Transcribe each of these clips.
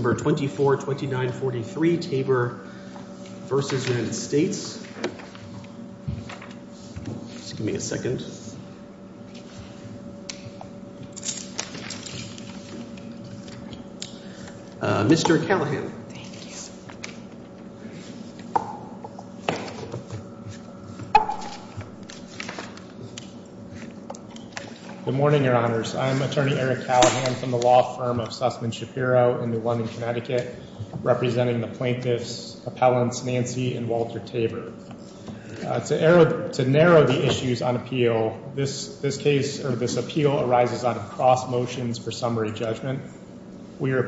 December 24, 2943, Tabor v. United States Mr. Callahan Good morning, Your Honors. I'm Attorney Eric Callahan from the law firm of Sussman Shapiro in New London, Connecticut, representing the plaintiffs' appellants Nancy and Walter Tabor. To narrow the issues on appeal, this case, or this appeal, arises out of cross motions for summary judgment. We are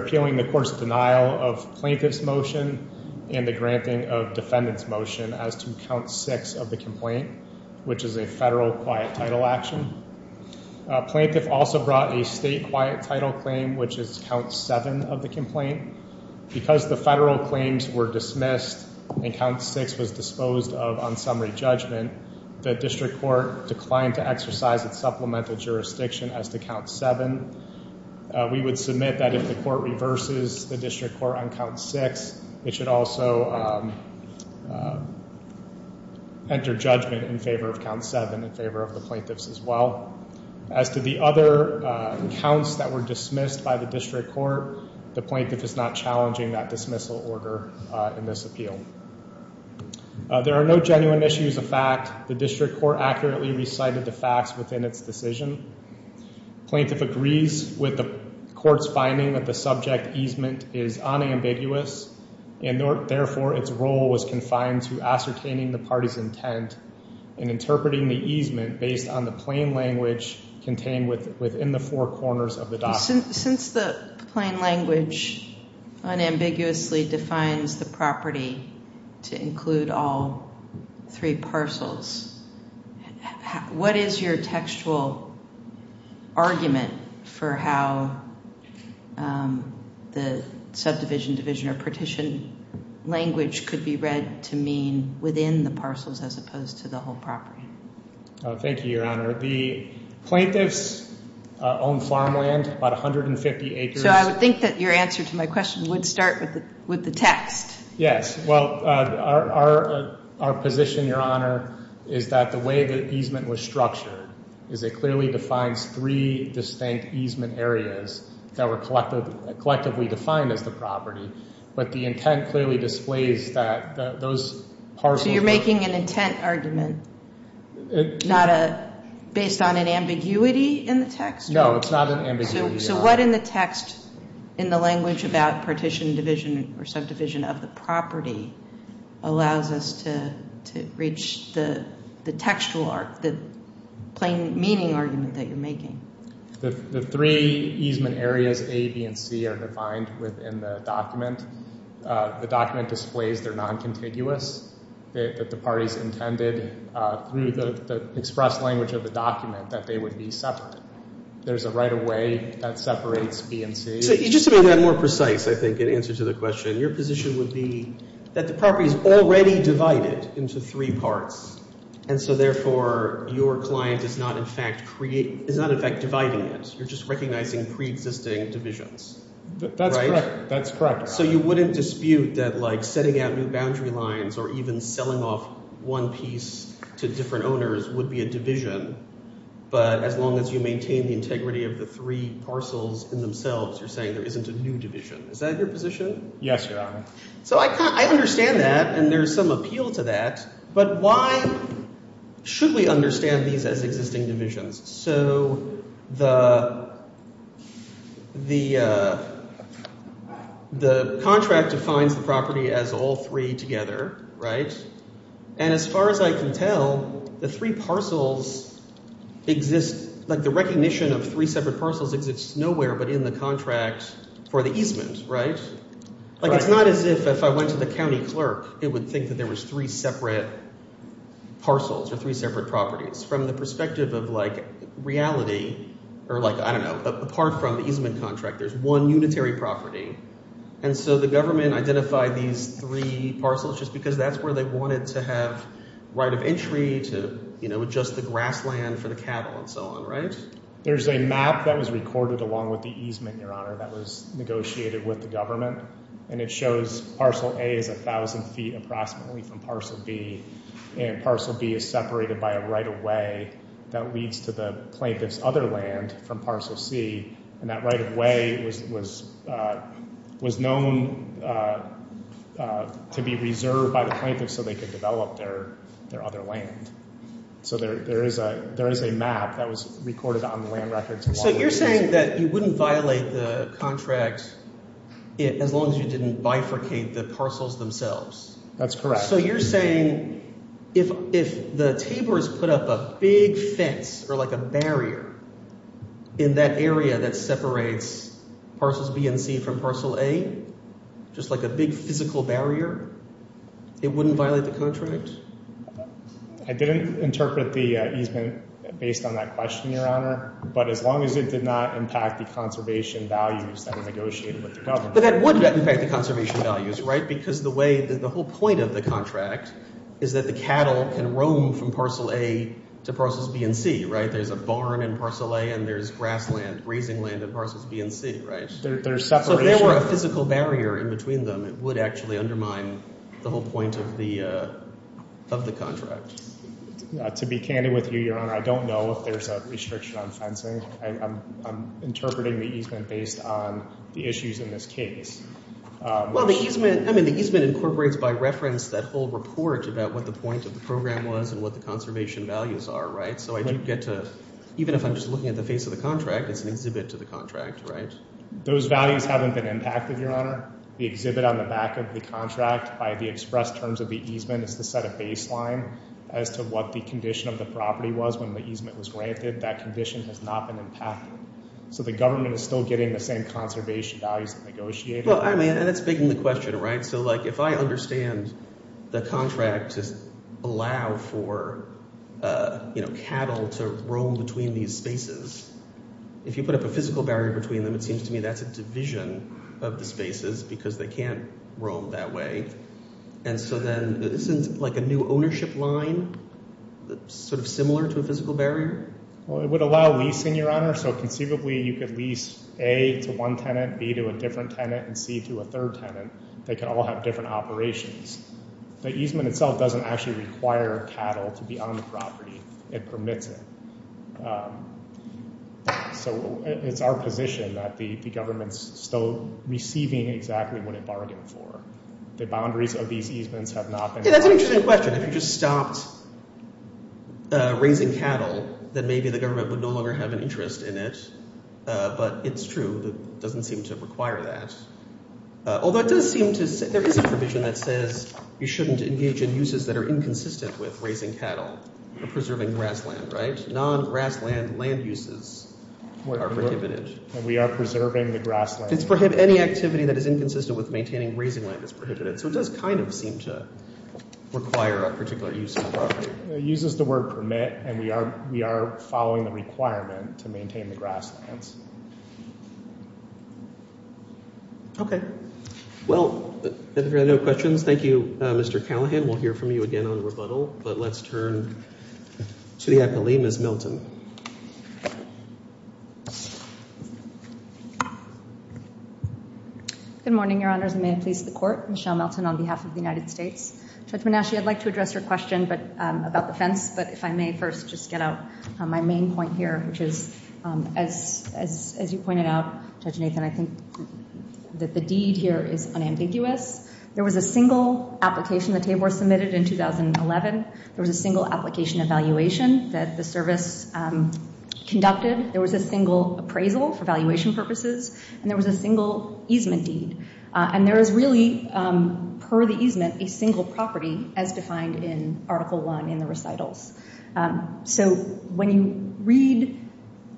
appealing the court's denial of plaintiff's motion and the granting of defendant's motion as to count six of the complaint, which is a federal quiet title action. Plaintiff also brought a state quiet title claim, which is count seven of the complaint. Because the federal claims were dismissed and count six was disposed of on summary judgment, the district court declined to exercise its supplemental jurisdiction as to count seven. We would submit that if the court reverses the district court on count six, it should also enter judgment in favor of count seven in favor of the plaintiffs as well. As to the other counts that were dismissed by the district court, the plaintiff is not challenging that dismissal order in this appeal. There are no genuine issues of fact. The district court accurately recited the facts within its decision. Plaintiff agrees with the court's finding that the subject easement is unambiguous, and therefore its role was confined to ascertaining the party's intent and interpreting the easement based on the plain language contained within the four corners of the document. Since the plain language unambiguously defines the property to include all three parcels, what is your textual argument for how the subdivision, division, or partition language could be read to mean within the parcels as opposed to the whole property? Oh, thank you, Your Honor. The plaintiffs own farmland, about 150 acres. So I would think that your answer to my question would start with the text. Yes. Well, our position, Your Honor, is that the way the easement was structured is it clearly defines three distinct easement areas that were collectively defined as the property. But the intent clearly displays that those parcels- So you're making an intent argument based on an ambiguity in the text? No, it's not an ambiguity. So what in the text, in the language about partition, division, or subdivision of the property allows us to reach the textual, the plain meaning argument that you're making? The three easement areas, A, B, and C, are defined within the document. The document displays they're non-contiguous, that the party's intended, through the expressed language of the document, that they would be separate. There's a right-of-way that separates B and C. Just to be more precise, I think, in answer to the question, your position would be that the property is already divided into three parts. And so, therefore, your client is not, in fact, dividing it. You're just recognizing pre-existing divisions. That's correct. So you wouldn't dispute that setting out new boundary lines or even selling off one piece to different owners would be a division. But as long as you maintain the integrity of the three parcels in themselves, you're saying there isn't a new division. Is that your position? Yes, Your Honor. So I understand that, and there's some appeal to that. But why should we understand these as existing divisions? So the contract defines the property as all three together, right? And as far as I can tell, the three parcels exist, like the recognition of three separate parcels exists nowhere but in the contract for the easement, right? Like, it's not as if, if I went to the county clerk, it would think that there was three separate parcels or three separate properties. From the perspective of, like, reality, or like, I don't know, apart from the easement contract, there's one unitary property. And so the government identified these three parcels just because that's where they wanted to have right of entry to, you know, adjust the grassland for the cattle and so on, right? There's a map that was recorded along with the easement, Your Honor, that was negotiated with the government. And it shows parcel A is 1,000 feet approximately from parcel B. And parcel B is separated by a right-of-way that leads to the plaintiff's other land from parcel C. And that right-of-way was known to be reserved by the plaintiff so they could develop their other land. So there is a map that was recorded on the land records. So you're saying that you wouldn't violate the contract as long as you didn't bifurcate the parcels themselves? That's correct. So you're saying if the Tabor's put up a big fence or, like, a barrier in that area that separates parcels B and C from parcel A, just like a big physical barrier, it wouldn't violate the contract? I didn't interpret the easement based on that question, Your Honor. But as long as it did not impact the conservation values that were negotiated with the government. But that would impact the conservation values, right? Because the way that the whole point of the contract is that the cattle can roam from parcel A to parcels B and C, right? There's a barn in parcel A and there's grassland, grazing land in parcels B and C, right? There's separation. So if there were a physical barrier in between them, it would actually undermine the whole point of the contract. To be candid with you, Your Honor, I don't know if there's a restriction on fencing. I'm interpreting the easement based on the issues in this case. Well, the easement incorporates by reference that whole report about what the point of the program was and what the conservation values are, right? I do get to, even if I'm just looking at the face of the contract, it's an exhibit to the contract, right? Those values haven't been impacted, Your Honor. The exhibit on the back of the contract by the express terms of the easement is the set of baseline as to what the condition of the property was when the easement was granted. That condition has not been impacted. So the government is still getting the same conservation values that negotiated. Well, I mean, and that's begging the question, right? If I understand the contract to allow for cattle to roam between these spaces, if you put up a physical barrier between them, it seems to me that's a division of the spaces because they can't roam that way. And so then isn't like a new ownership line sort of similar to a physical barrier? Well, it would allow leasing, Your Honor. So conceivably, you could lease A to one tenant, B to a different tenant, and C to a third tenant. They can all have different operations. The easement itself doesn't actually require cattle to be on the property. It permits it. So it's our position that the government's still receiving exactly what it bargained for. The boundaries of these easements have not been... Yeah, that's an interesting question. If you just stopped raising cattle, then maybe the government would no longer have an interest in it. But it's true. That doesn't seem to require that. Although it does seem to... There is a provision that says, you shouldn't engage in uses that are inconsistent with raising cattle or preserving grassland, right? Non-grassland land uses are prohibited. We are preserving the grassland. It's prohib... Any activity that is inconsistent with maintaining raising land is prohibited. So it does kind of seem to require a particular use of the property. It uses the word permit, and we are following the requirement to maintain the grasslands. Okay. Well, if there are no questions, thank you, Mr. Callahan. We'll hear from you again on rebuttal, but let's turn to the appellee, Ms. Milton. Good morning, Your Honors. I may have pleased the court. Michelle Milton on behalf of the United States. Judge Manasci, I'd like to address your question about the fence, but if I may first just get out my main point here, which is, as you pointed out, Judge Nathan, I think that the deed here is unambiguous. There was a single application, the table was submitted in 2011. There was a single application evaluation that the service conducted. There was a single appraisal for valuation purposes, and there was a single easement deed. And there is really, per the easement, a single property as defined in Article I in the recitals. So when you read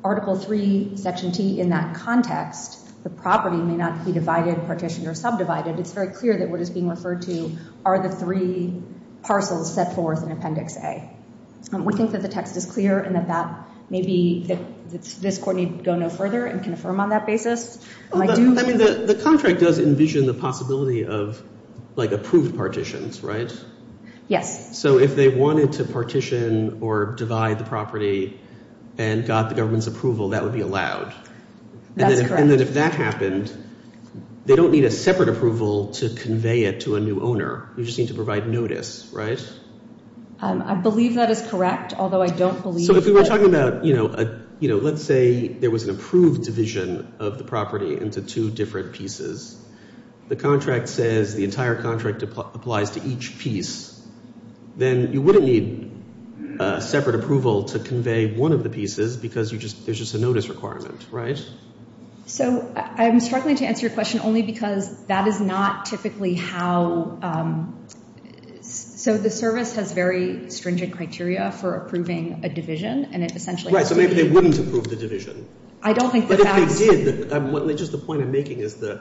Article III, Section T, in that context, the property may not be divided, partitioned, or subdivided. It's very clear that what is being referred to are the three parcels set forth in Appendix A. We think that the text is clear and that maybe this court need to go no further and confirm on that basis. I mean, the contract does envision the possibility of approved partitions, right? Yes. So if they wanted to partition or divide the property and got the government's approval, that would be allowed? That's correct. And then if that happened, they don't need a separate approval to convey it to a new owner. You just need to provide notice, right? I believe that is correct, although I don't believe... So if we were talking about, you know, let's say there was an approved division of the property into two different pieces. The contract says the entire contract applies to each piece, then you wouldn't need a separate approval to convey one of the pieces because there's just a notice requirement, right? So I'm struggling to answer your question only because that is not typically how... So the service has very stringent criteria for approving a division, and it essentially... Right, so maybe they wouldn't approve the division. I don't think the facts... But if they did, just the point I'm making is the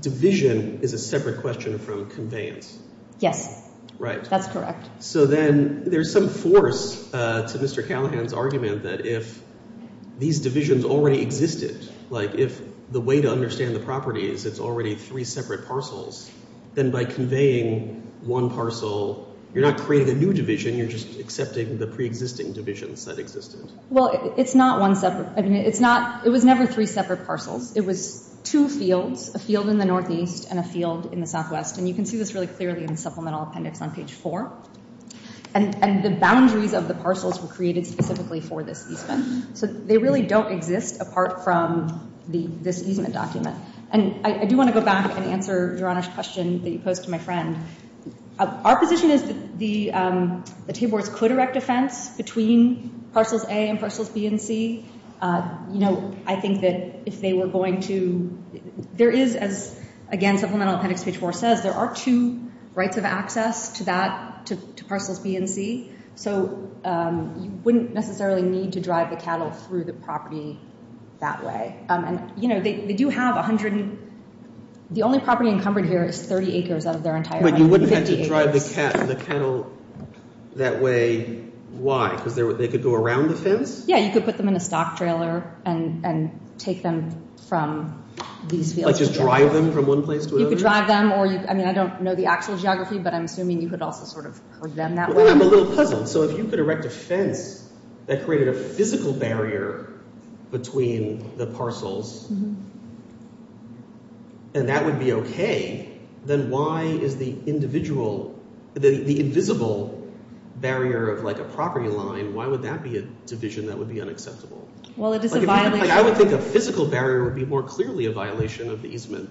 division is a separate question from conveyance. Yes, that's correct. So then there's some force to Mr. Callahan's argument that if these divisions already existed, like if the way to understand the property is it's already three separate parcels, then by conveying one parcel, you're not creating a new division, you're just accepting the pre-existing divisions that existed. Well, it's not one separate... I mean, it's not... It was never three separate parcels. It was two fields, a field in the northeast and a field in the southwest. And you can see this really clearly in the supplemental appendix on page four. And the boundaries of the parcels were created specifically for this easement. So they really don't exist apart from this easement document. And I do want to go back and answer Jorana's question that you posed to my friend. Our position is that the T-Boards could erect a fence between parcels A and parcels B and C. You know, I think that if they were going to... There is, as again, supplemental appendix page four says, there are two rights of access to that, to parcels B and C. So you wouldn't necessarily need to drive the cattle through the property that way. And, you know, they do have a hundred... The only property encumbered here is 30 acres out of their entire... But you wouldn't have to drive the cattle that way. Why? Because they could go around the fence? Yeah, you could put them in a stock trailer and take them from these fields. Like just drive them from one place to another? You could drive them or you... I mean, I don't know the actual geography, but I'm assuming you could also sort of put them that way? I'm a little puzzled. So if you could erect a fence that created a physical barrier between the parcels and that would be okay, then why is the individual... The invisible barrier of like a property line, why would that be a division that would be unacceptable? Well, it is a violation... I would think a physical barrier would be more clearly a violation of the easement.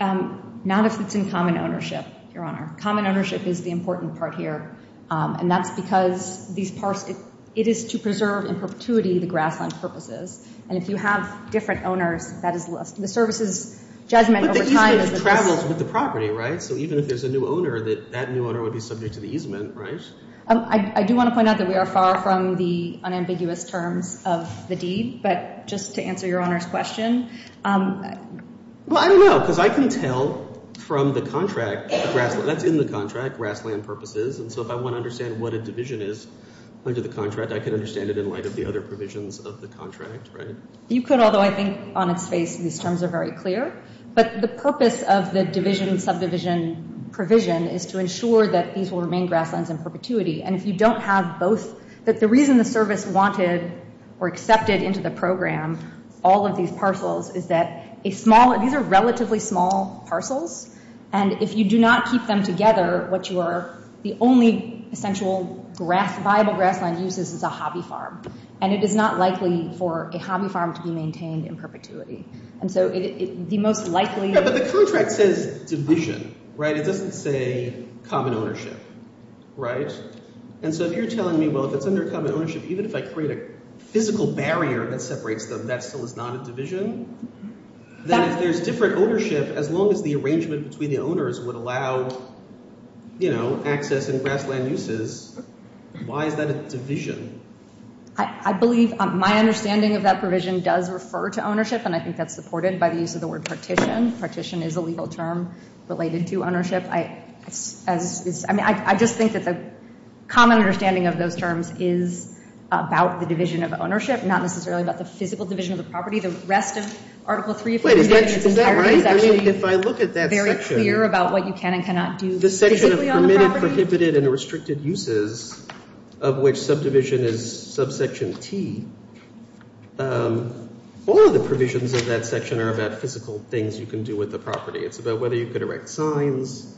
Not if it's in common ownership, Your Honor. Common ownership is the important part here. And that's because these parts, it is to preserve in perpetuity the grassland purposes. And if you have different owners, that is less... The service's judgment over time... But the easement travels with the property, right? So even if there's a new owner, that that new owner would be subject to the easement, right? I do want to point out that we are far from the unambiguous terms of the deed. But just to answer Your Honor's question... Well, I don't know, because I can tell from the contract... That's in the contract, grassland purposes. And so if I want to understand what a division is under the contract, I can understand it in light of the other provisions of the contract, right? You could, although I think on its face, these terms are very clear. But the purpose of the division subdivision provision is to ensure that these will remain grasslands in perpetuity. And if you don't have both... That the reason the service wanted or accepted into the program all of these parcels is that a small... These are relatively small parcels. And if you do not keep them together, what you are... The only essential viable grassland uses is a hobby farm. And it is not likely for a hobby farm to be maintained in perpetuity. And so the most likely... Yeah, but the contract says division, right? It doesn't say common ownership, right? And so if you're telling me, well, if it's under common ownership, even if I create a physical barrier that separates them, that still is not a division? Then if there's different ownership, as long as the arrangement between the owners would allow, you know, access and grassland uses, why is that a division? I believe my understanding of that provision does refer to ownership. And I think that's supported by the use of the word partition. Partition is a legal term related to ownership. I mean, I just think that the common understanding of those terms is about the division of ownership, not necessarily about the physical division of the property. The rest of Article 3... Wait, is that right? I mean, if I look at that section... Very clear about what you can and cannot do... The section of permitted, prohibited, and restricted uses of which subdivision is subsection T, all of the provisions of that section are about physical things you can do with the property. It's about whether you could erect signs,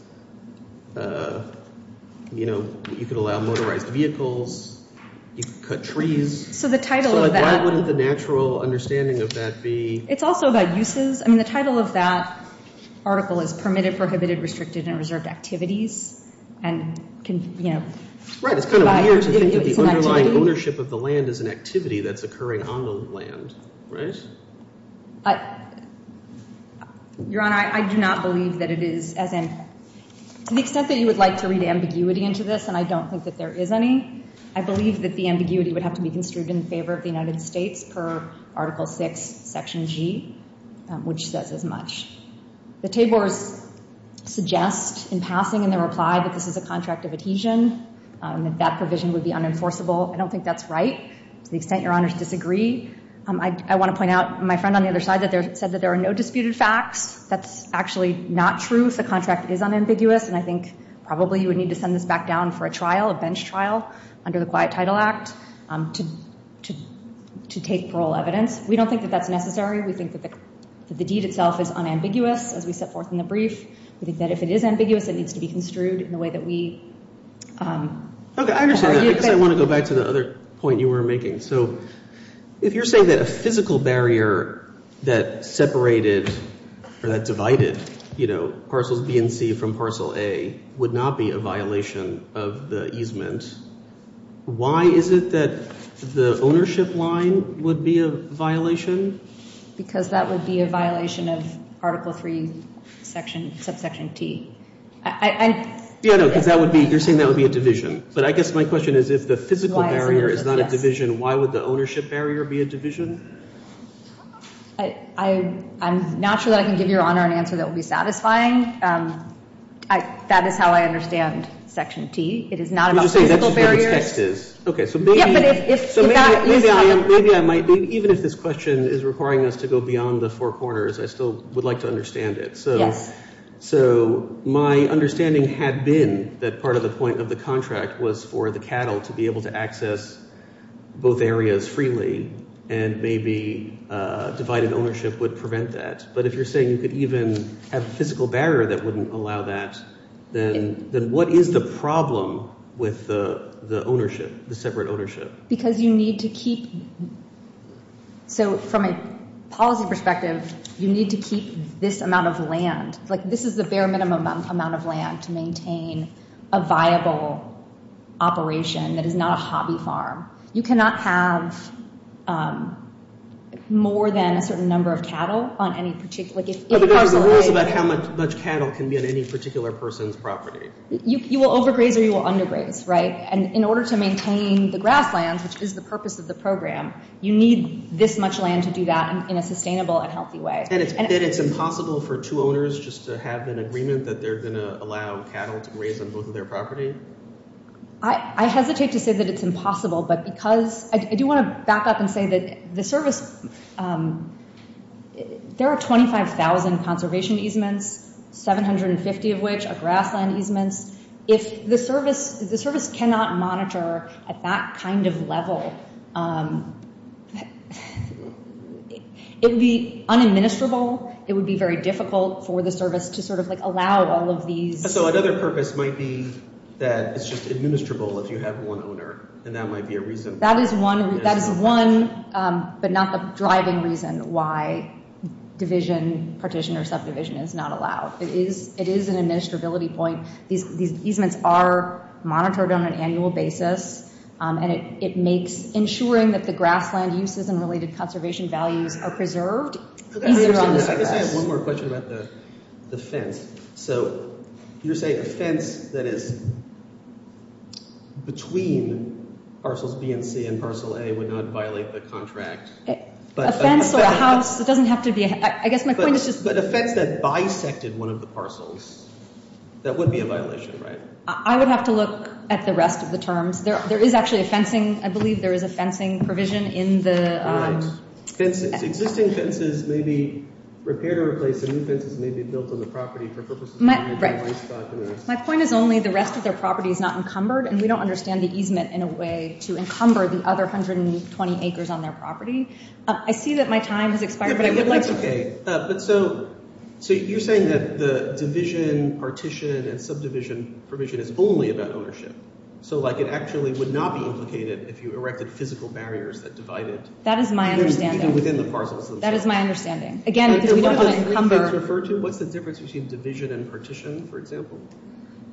you know, you could allow motorized vehicles, you could cut trees. So the title of that... Why wouldn't the natural understanding of that be... It's also about uses. I mean, the title of that article is permitted, prohibited, restricted, and reserved activities. And can, you know... Right, it's kind of weird to think that the underlying ownership of the land is an activity that's occurring on the land, right? Your Honor, I do not believe that it is, as in... To the extent that you would like to read ambiguity into this, and I don't think that there is any, I believe that the ambiguity would have to be construed in favor of the United States per Article VI, Section G, which says as much. The Taybors suggest, in passing, in their reply, that this is a contract of adhesion, that that provision would be unenforceable. I don't think that's right, to the extent Your Honors disagree. I want to point out, my friend on the other side said that there are no disputed facts. That's actually not true. If the contract is unambiguous, and I think probably you would need to send this back down for a trial, a bench trial, under the Quiet Title Act, to take parole evidence. We don't think that that's necessary. We think that the deed itself is unambiguous, as we set forth in the brief. We think that if it is ambiguous, it needs to be construed in the way that we... Okay, I understand that, because I want to go back to the other point you were making. So, if you're saying that a physical barrier that separated, or that divided, you know, Parcels B and C from Parcel A would not be a violation of the easement, why is it that the ownership line would be a violation? Because that would be a violation of Article III, Subsection T. Yeah, no, because you're saying that would be a division. But I guess my question is, if the physical barrier is not a division, why would the ownership barrier be a division? I'm not sure that I can give Your Honor an answer that would be satisfying. That is how I understand Section T. It is not about physical barriers. Would you say that's what its text is? Okay, so maybe... Yeah, but if that... So maybe I might be, even if this question is requiring us to go beyond the four corners, I still would like to understand it. Yes. So, my understanding had been that part of the point of the contract was for the cattle to be able to access both areas freely, and maybe divided ownership would prevent that. But if you're saying you could even have physical barriers that wouldn't allow that, then what is the problem with the ownership, the separate ownership? Because you need to keep... So, from a policy perspective, you need to keep this amount of land. Like, this is the bare minimum amount of land to maintain a viable operation that is not a hobby farm. You cannot have more than a certain number of cattle on any particular... But there are rules about how much cattle can be on any particular person's property. You will overgraze or you will undergraze, right? And in order to maintain the grasslands, which is the purpose of the program, you need this much land to do that in a sustainable and healthy way. And it's impossible for two owners just to have an agreement that they're going to allow cattle to graze on both of their property? I hesitate to say that it's impossible, but because... I do want to back up and say that the service... There are 25,000 conservation easements, 750 of which are grassland easements. If the service cannot monitor at that kind of level, it would be unadministrable. It would be very difficult for the service to sort of like allow all of these... So another purpose might be that it's just administrable if you have one owner, and that might be a reason. That is one, but not the purpose of the program. It's not a driving reason why division, partition or subdivision is not allowed. It is an administrability point. These easements are monitored on an annual basis, and it makes ensuring that the grassland uses and related conservation values are preserved. I guess I have one more question about the fence. So you're saying a fence that is between parcels B and C and parcel A would not violate the contract? A fence or a house, it doesn't have to be... I guess my point is just... But a fence that bisected one of the parcels, that would be a violation, right? I would have to look at the rest of the terms. There is actually a fencing... I believe there is a fencing provision in the... Existing fences may be repaired or replaced. The new fences may be built on the property for purposes... My point is only the rest of their property is not encumbered, and we don't understand the easement in a way to encumber the other 120 acres on their property. I see that my time has expired, but I would like to... Okay, but so you're saying that the division, partition, and subdivision provision is only about ownership. So like it actually would not be implicated if you erected physical barriers that divided... That is my understanding. Even within the parcels themselves. That is my understanding. Again, because we don't want to encumber... What's the difference between division and partition, for example?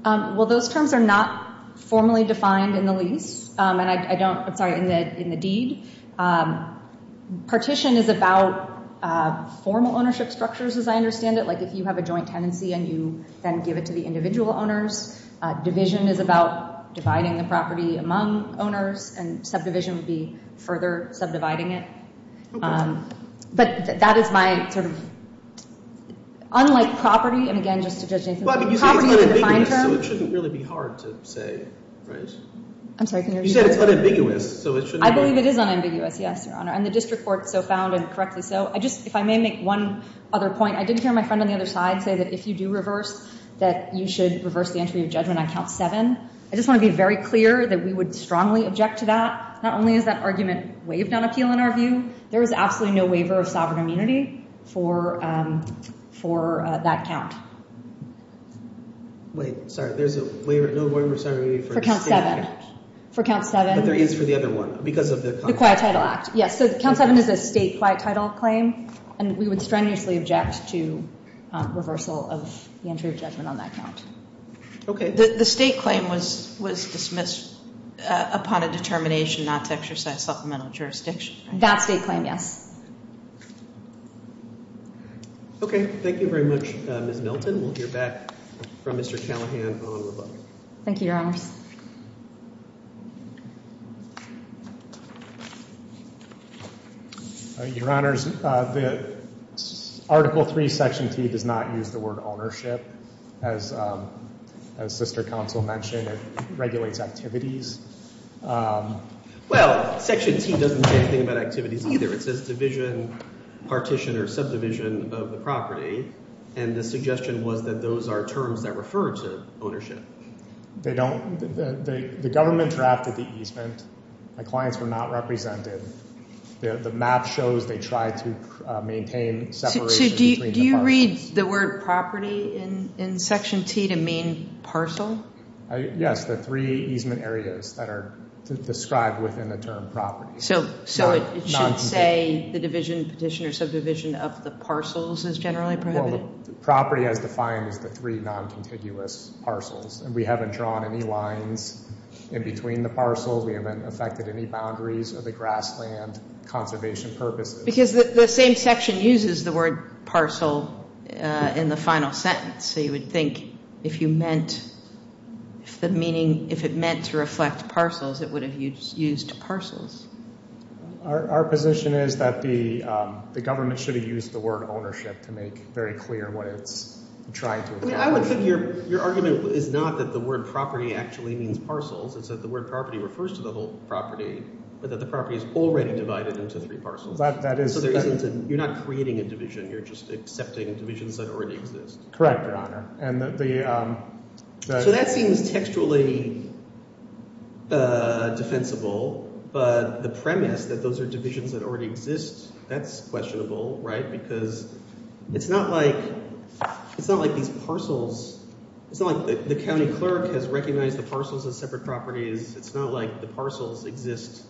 Well, those terms are not formally defined in the lease, and I don't... I'm sorry, in the deed. Partition is about formal ownership structures, as I understand it. Like if you have a joint tenancy and you then give it to the individual owners, division is about dividing the property among owners, and subdivision would be further subdividing it. But that is my sort of... Unlike property, and again, just to judge Nathan... Well, I mean, you say it's unambiguous, so it shouldn't really be hard to say, right? I'm sorry, can you repeat that? You said it's unambiguous, so it shouldn't be hard. I believe it is unambiguous, yes, Your Honor. And the district court so found, and correctly so. I just... If I may make one other point, I did hear my friend on the other side say that if you do reverse, that you should reverse the entry of judgment on count seven. I just want to be very clear that we would strongly object to that. Not only is that argument waived on appeal in our view, there is absolutely no waiver of sovereign immunity for that count. Wait, sorry, there's a waiver... No waiver of sovereign immunity for... For count seven. For count seven. But there is for the other one. Because of the... The Quiet Title Act, yes. So count seven is a state quiet title claim, and we would strenuously object to reversal of the entry of judgment on that count. Okay, the state claim was dismissed upon a determination not to exercise supplemental jurisdiction. That state claim, yes. Okay, thank you very much, Ms. Milton. We'll hear back from Mr. Callahan on the vote. Thank you, Your Honors. Your Honors, the Article III, Section T, does not use the word ownership. As Sister Counsel mentioned, it regulates activities. Well, Section T doesn't say anything about activities either. It says division, partition, or subdivision of the property. And the suggestion was that those are terms that refer to ownership. They don't. The government drafted the easement. The clients were not represented. The map shows they tried to maintain separation between the parcels. Do you read the word property in Section T to mean parcel? Yes, the three easement areas that are described within the term property. So it should say the division, partition, or subdivision of the parcels is generally prohibited? Well, the property as defined is the three non-contiguous parcels. And we haven't drawn any lines in between the parcels. We haven't affected any boundaries of the grassland conservation purposes. Because the same section uses the word parcel in the final sentence. So you would think if you meant, if the meaning, if it meant to reflect parcels, it would have used parcels. Our position is that the government should have used the word ownership to make very clear what it's trying to accomplish. I would think your argument is not that the word property actually means parcels. It's that the word property refers to the whole property, but that the property is already divided into three parcels. You're not creating a division. You're just accepting divisions that already exist. Correct, Your Honor. So that seems textually defensible. But the premise that those are divisions that already exist, that's questionable, right? Because it's not like these parcels, it's not like the county clerk has recognized the parcels as separate properties. It's not like the parcels exist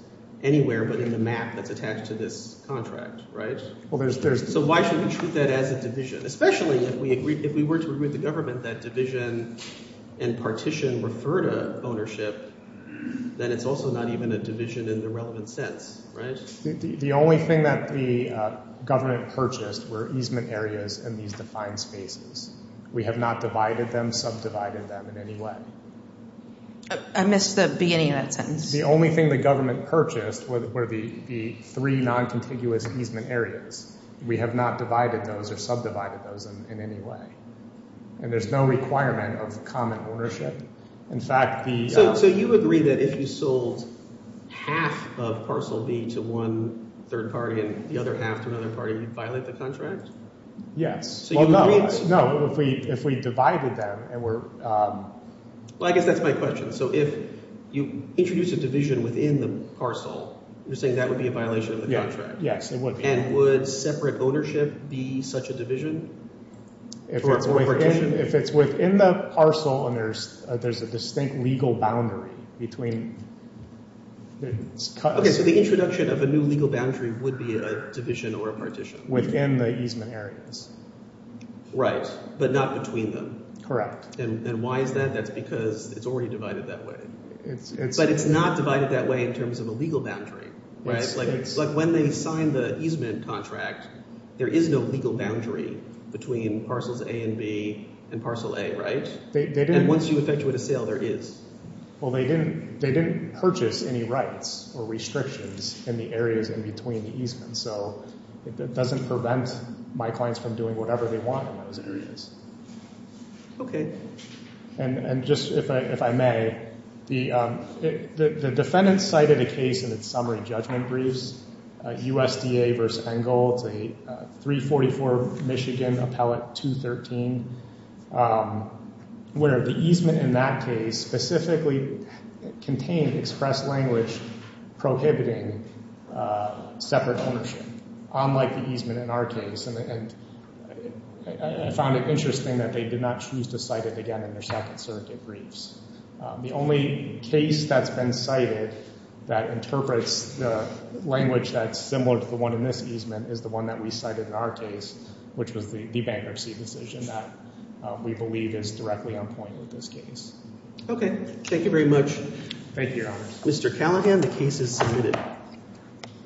anywhere, but in the map that's attached to this contract, right? Well, there's... So why should we treat that as a division? Especially if we were to agree with the government that division and partition refer to ownership, then it's also not even a division in the relevant sense, right? The only thing that the government purchased were easement areas and these defined spaces. We have not divided them, subdivided them in any way. I missed the beginning of that sentence. The only thing the government purchased were the three non-contiguous easement areas. We have not divided those or subdivided those in any way. And there's no requirement of common ownership. In fact, the... So you agree that if you sold half of parcel B to one third party and the other half to another party, you'd violate the contract? Yes. No, if we divided them and we're... Well, I guess that's my question. So if you introduce a division within the parcel, you're saying that would be a violation of the contract? Yes, it would. And would separate ownership be such a division? If it's within the parcel and there's a distinct legal boundary between... Okay, so the introduction of a new legal boundary would be a division or a partition? Within the easement areas. Right, but not between them. And why is that? That's because it's already divided that way. But it's not divided that way in terms of a legal boundary, right? It's like when they signed the easement contract, there is no legal boundary between parcels A and B and parcel A, right? And once you effectuate a sale, there is. Well, they didn't purchase any rights or restrictions in the areas in between the easements. So it doesn't prevent my clients from doing whatever they want in those areas. Okay. And just if I may, the defendant cited a case in its summary judgment briefs, USDA v. Engel, it's a 344 Michigan Appellate 213, where the easement in that case specifically contained express language prohibiting separate ownership, unlike the easement in our case. And I found it interesting that they did not choose to cite it again in their second circuit briefs. The only case that's been cited that interprets the language that's similar to the one in this easement is the one that we cited in our case, which was the bankruptcy decision that we believe is directly on point with this case. Okay, thank you very much. Thank you, Your Honor. Mr. Callaghan, the case is submitted.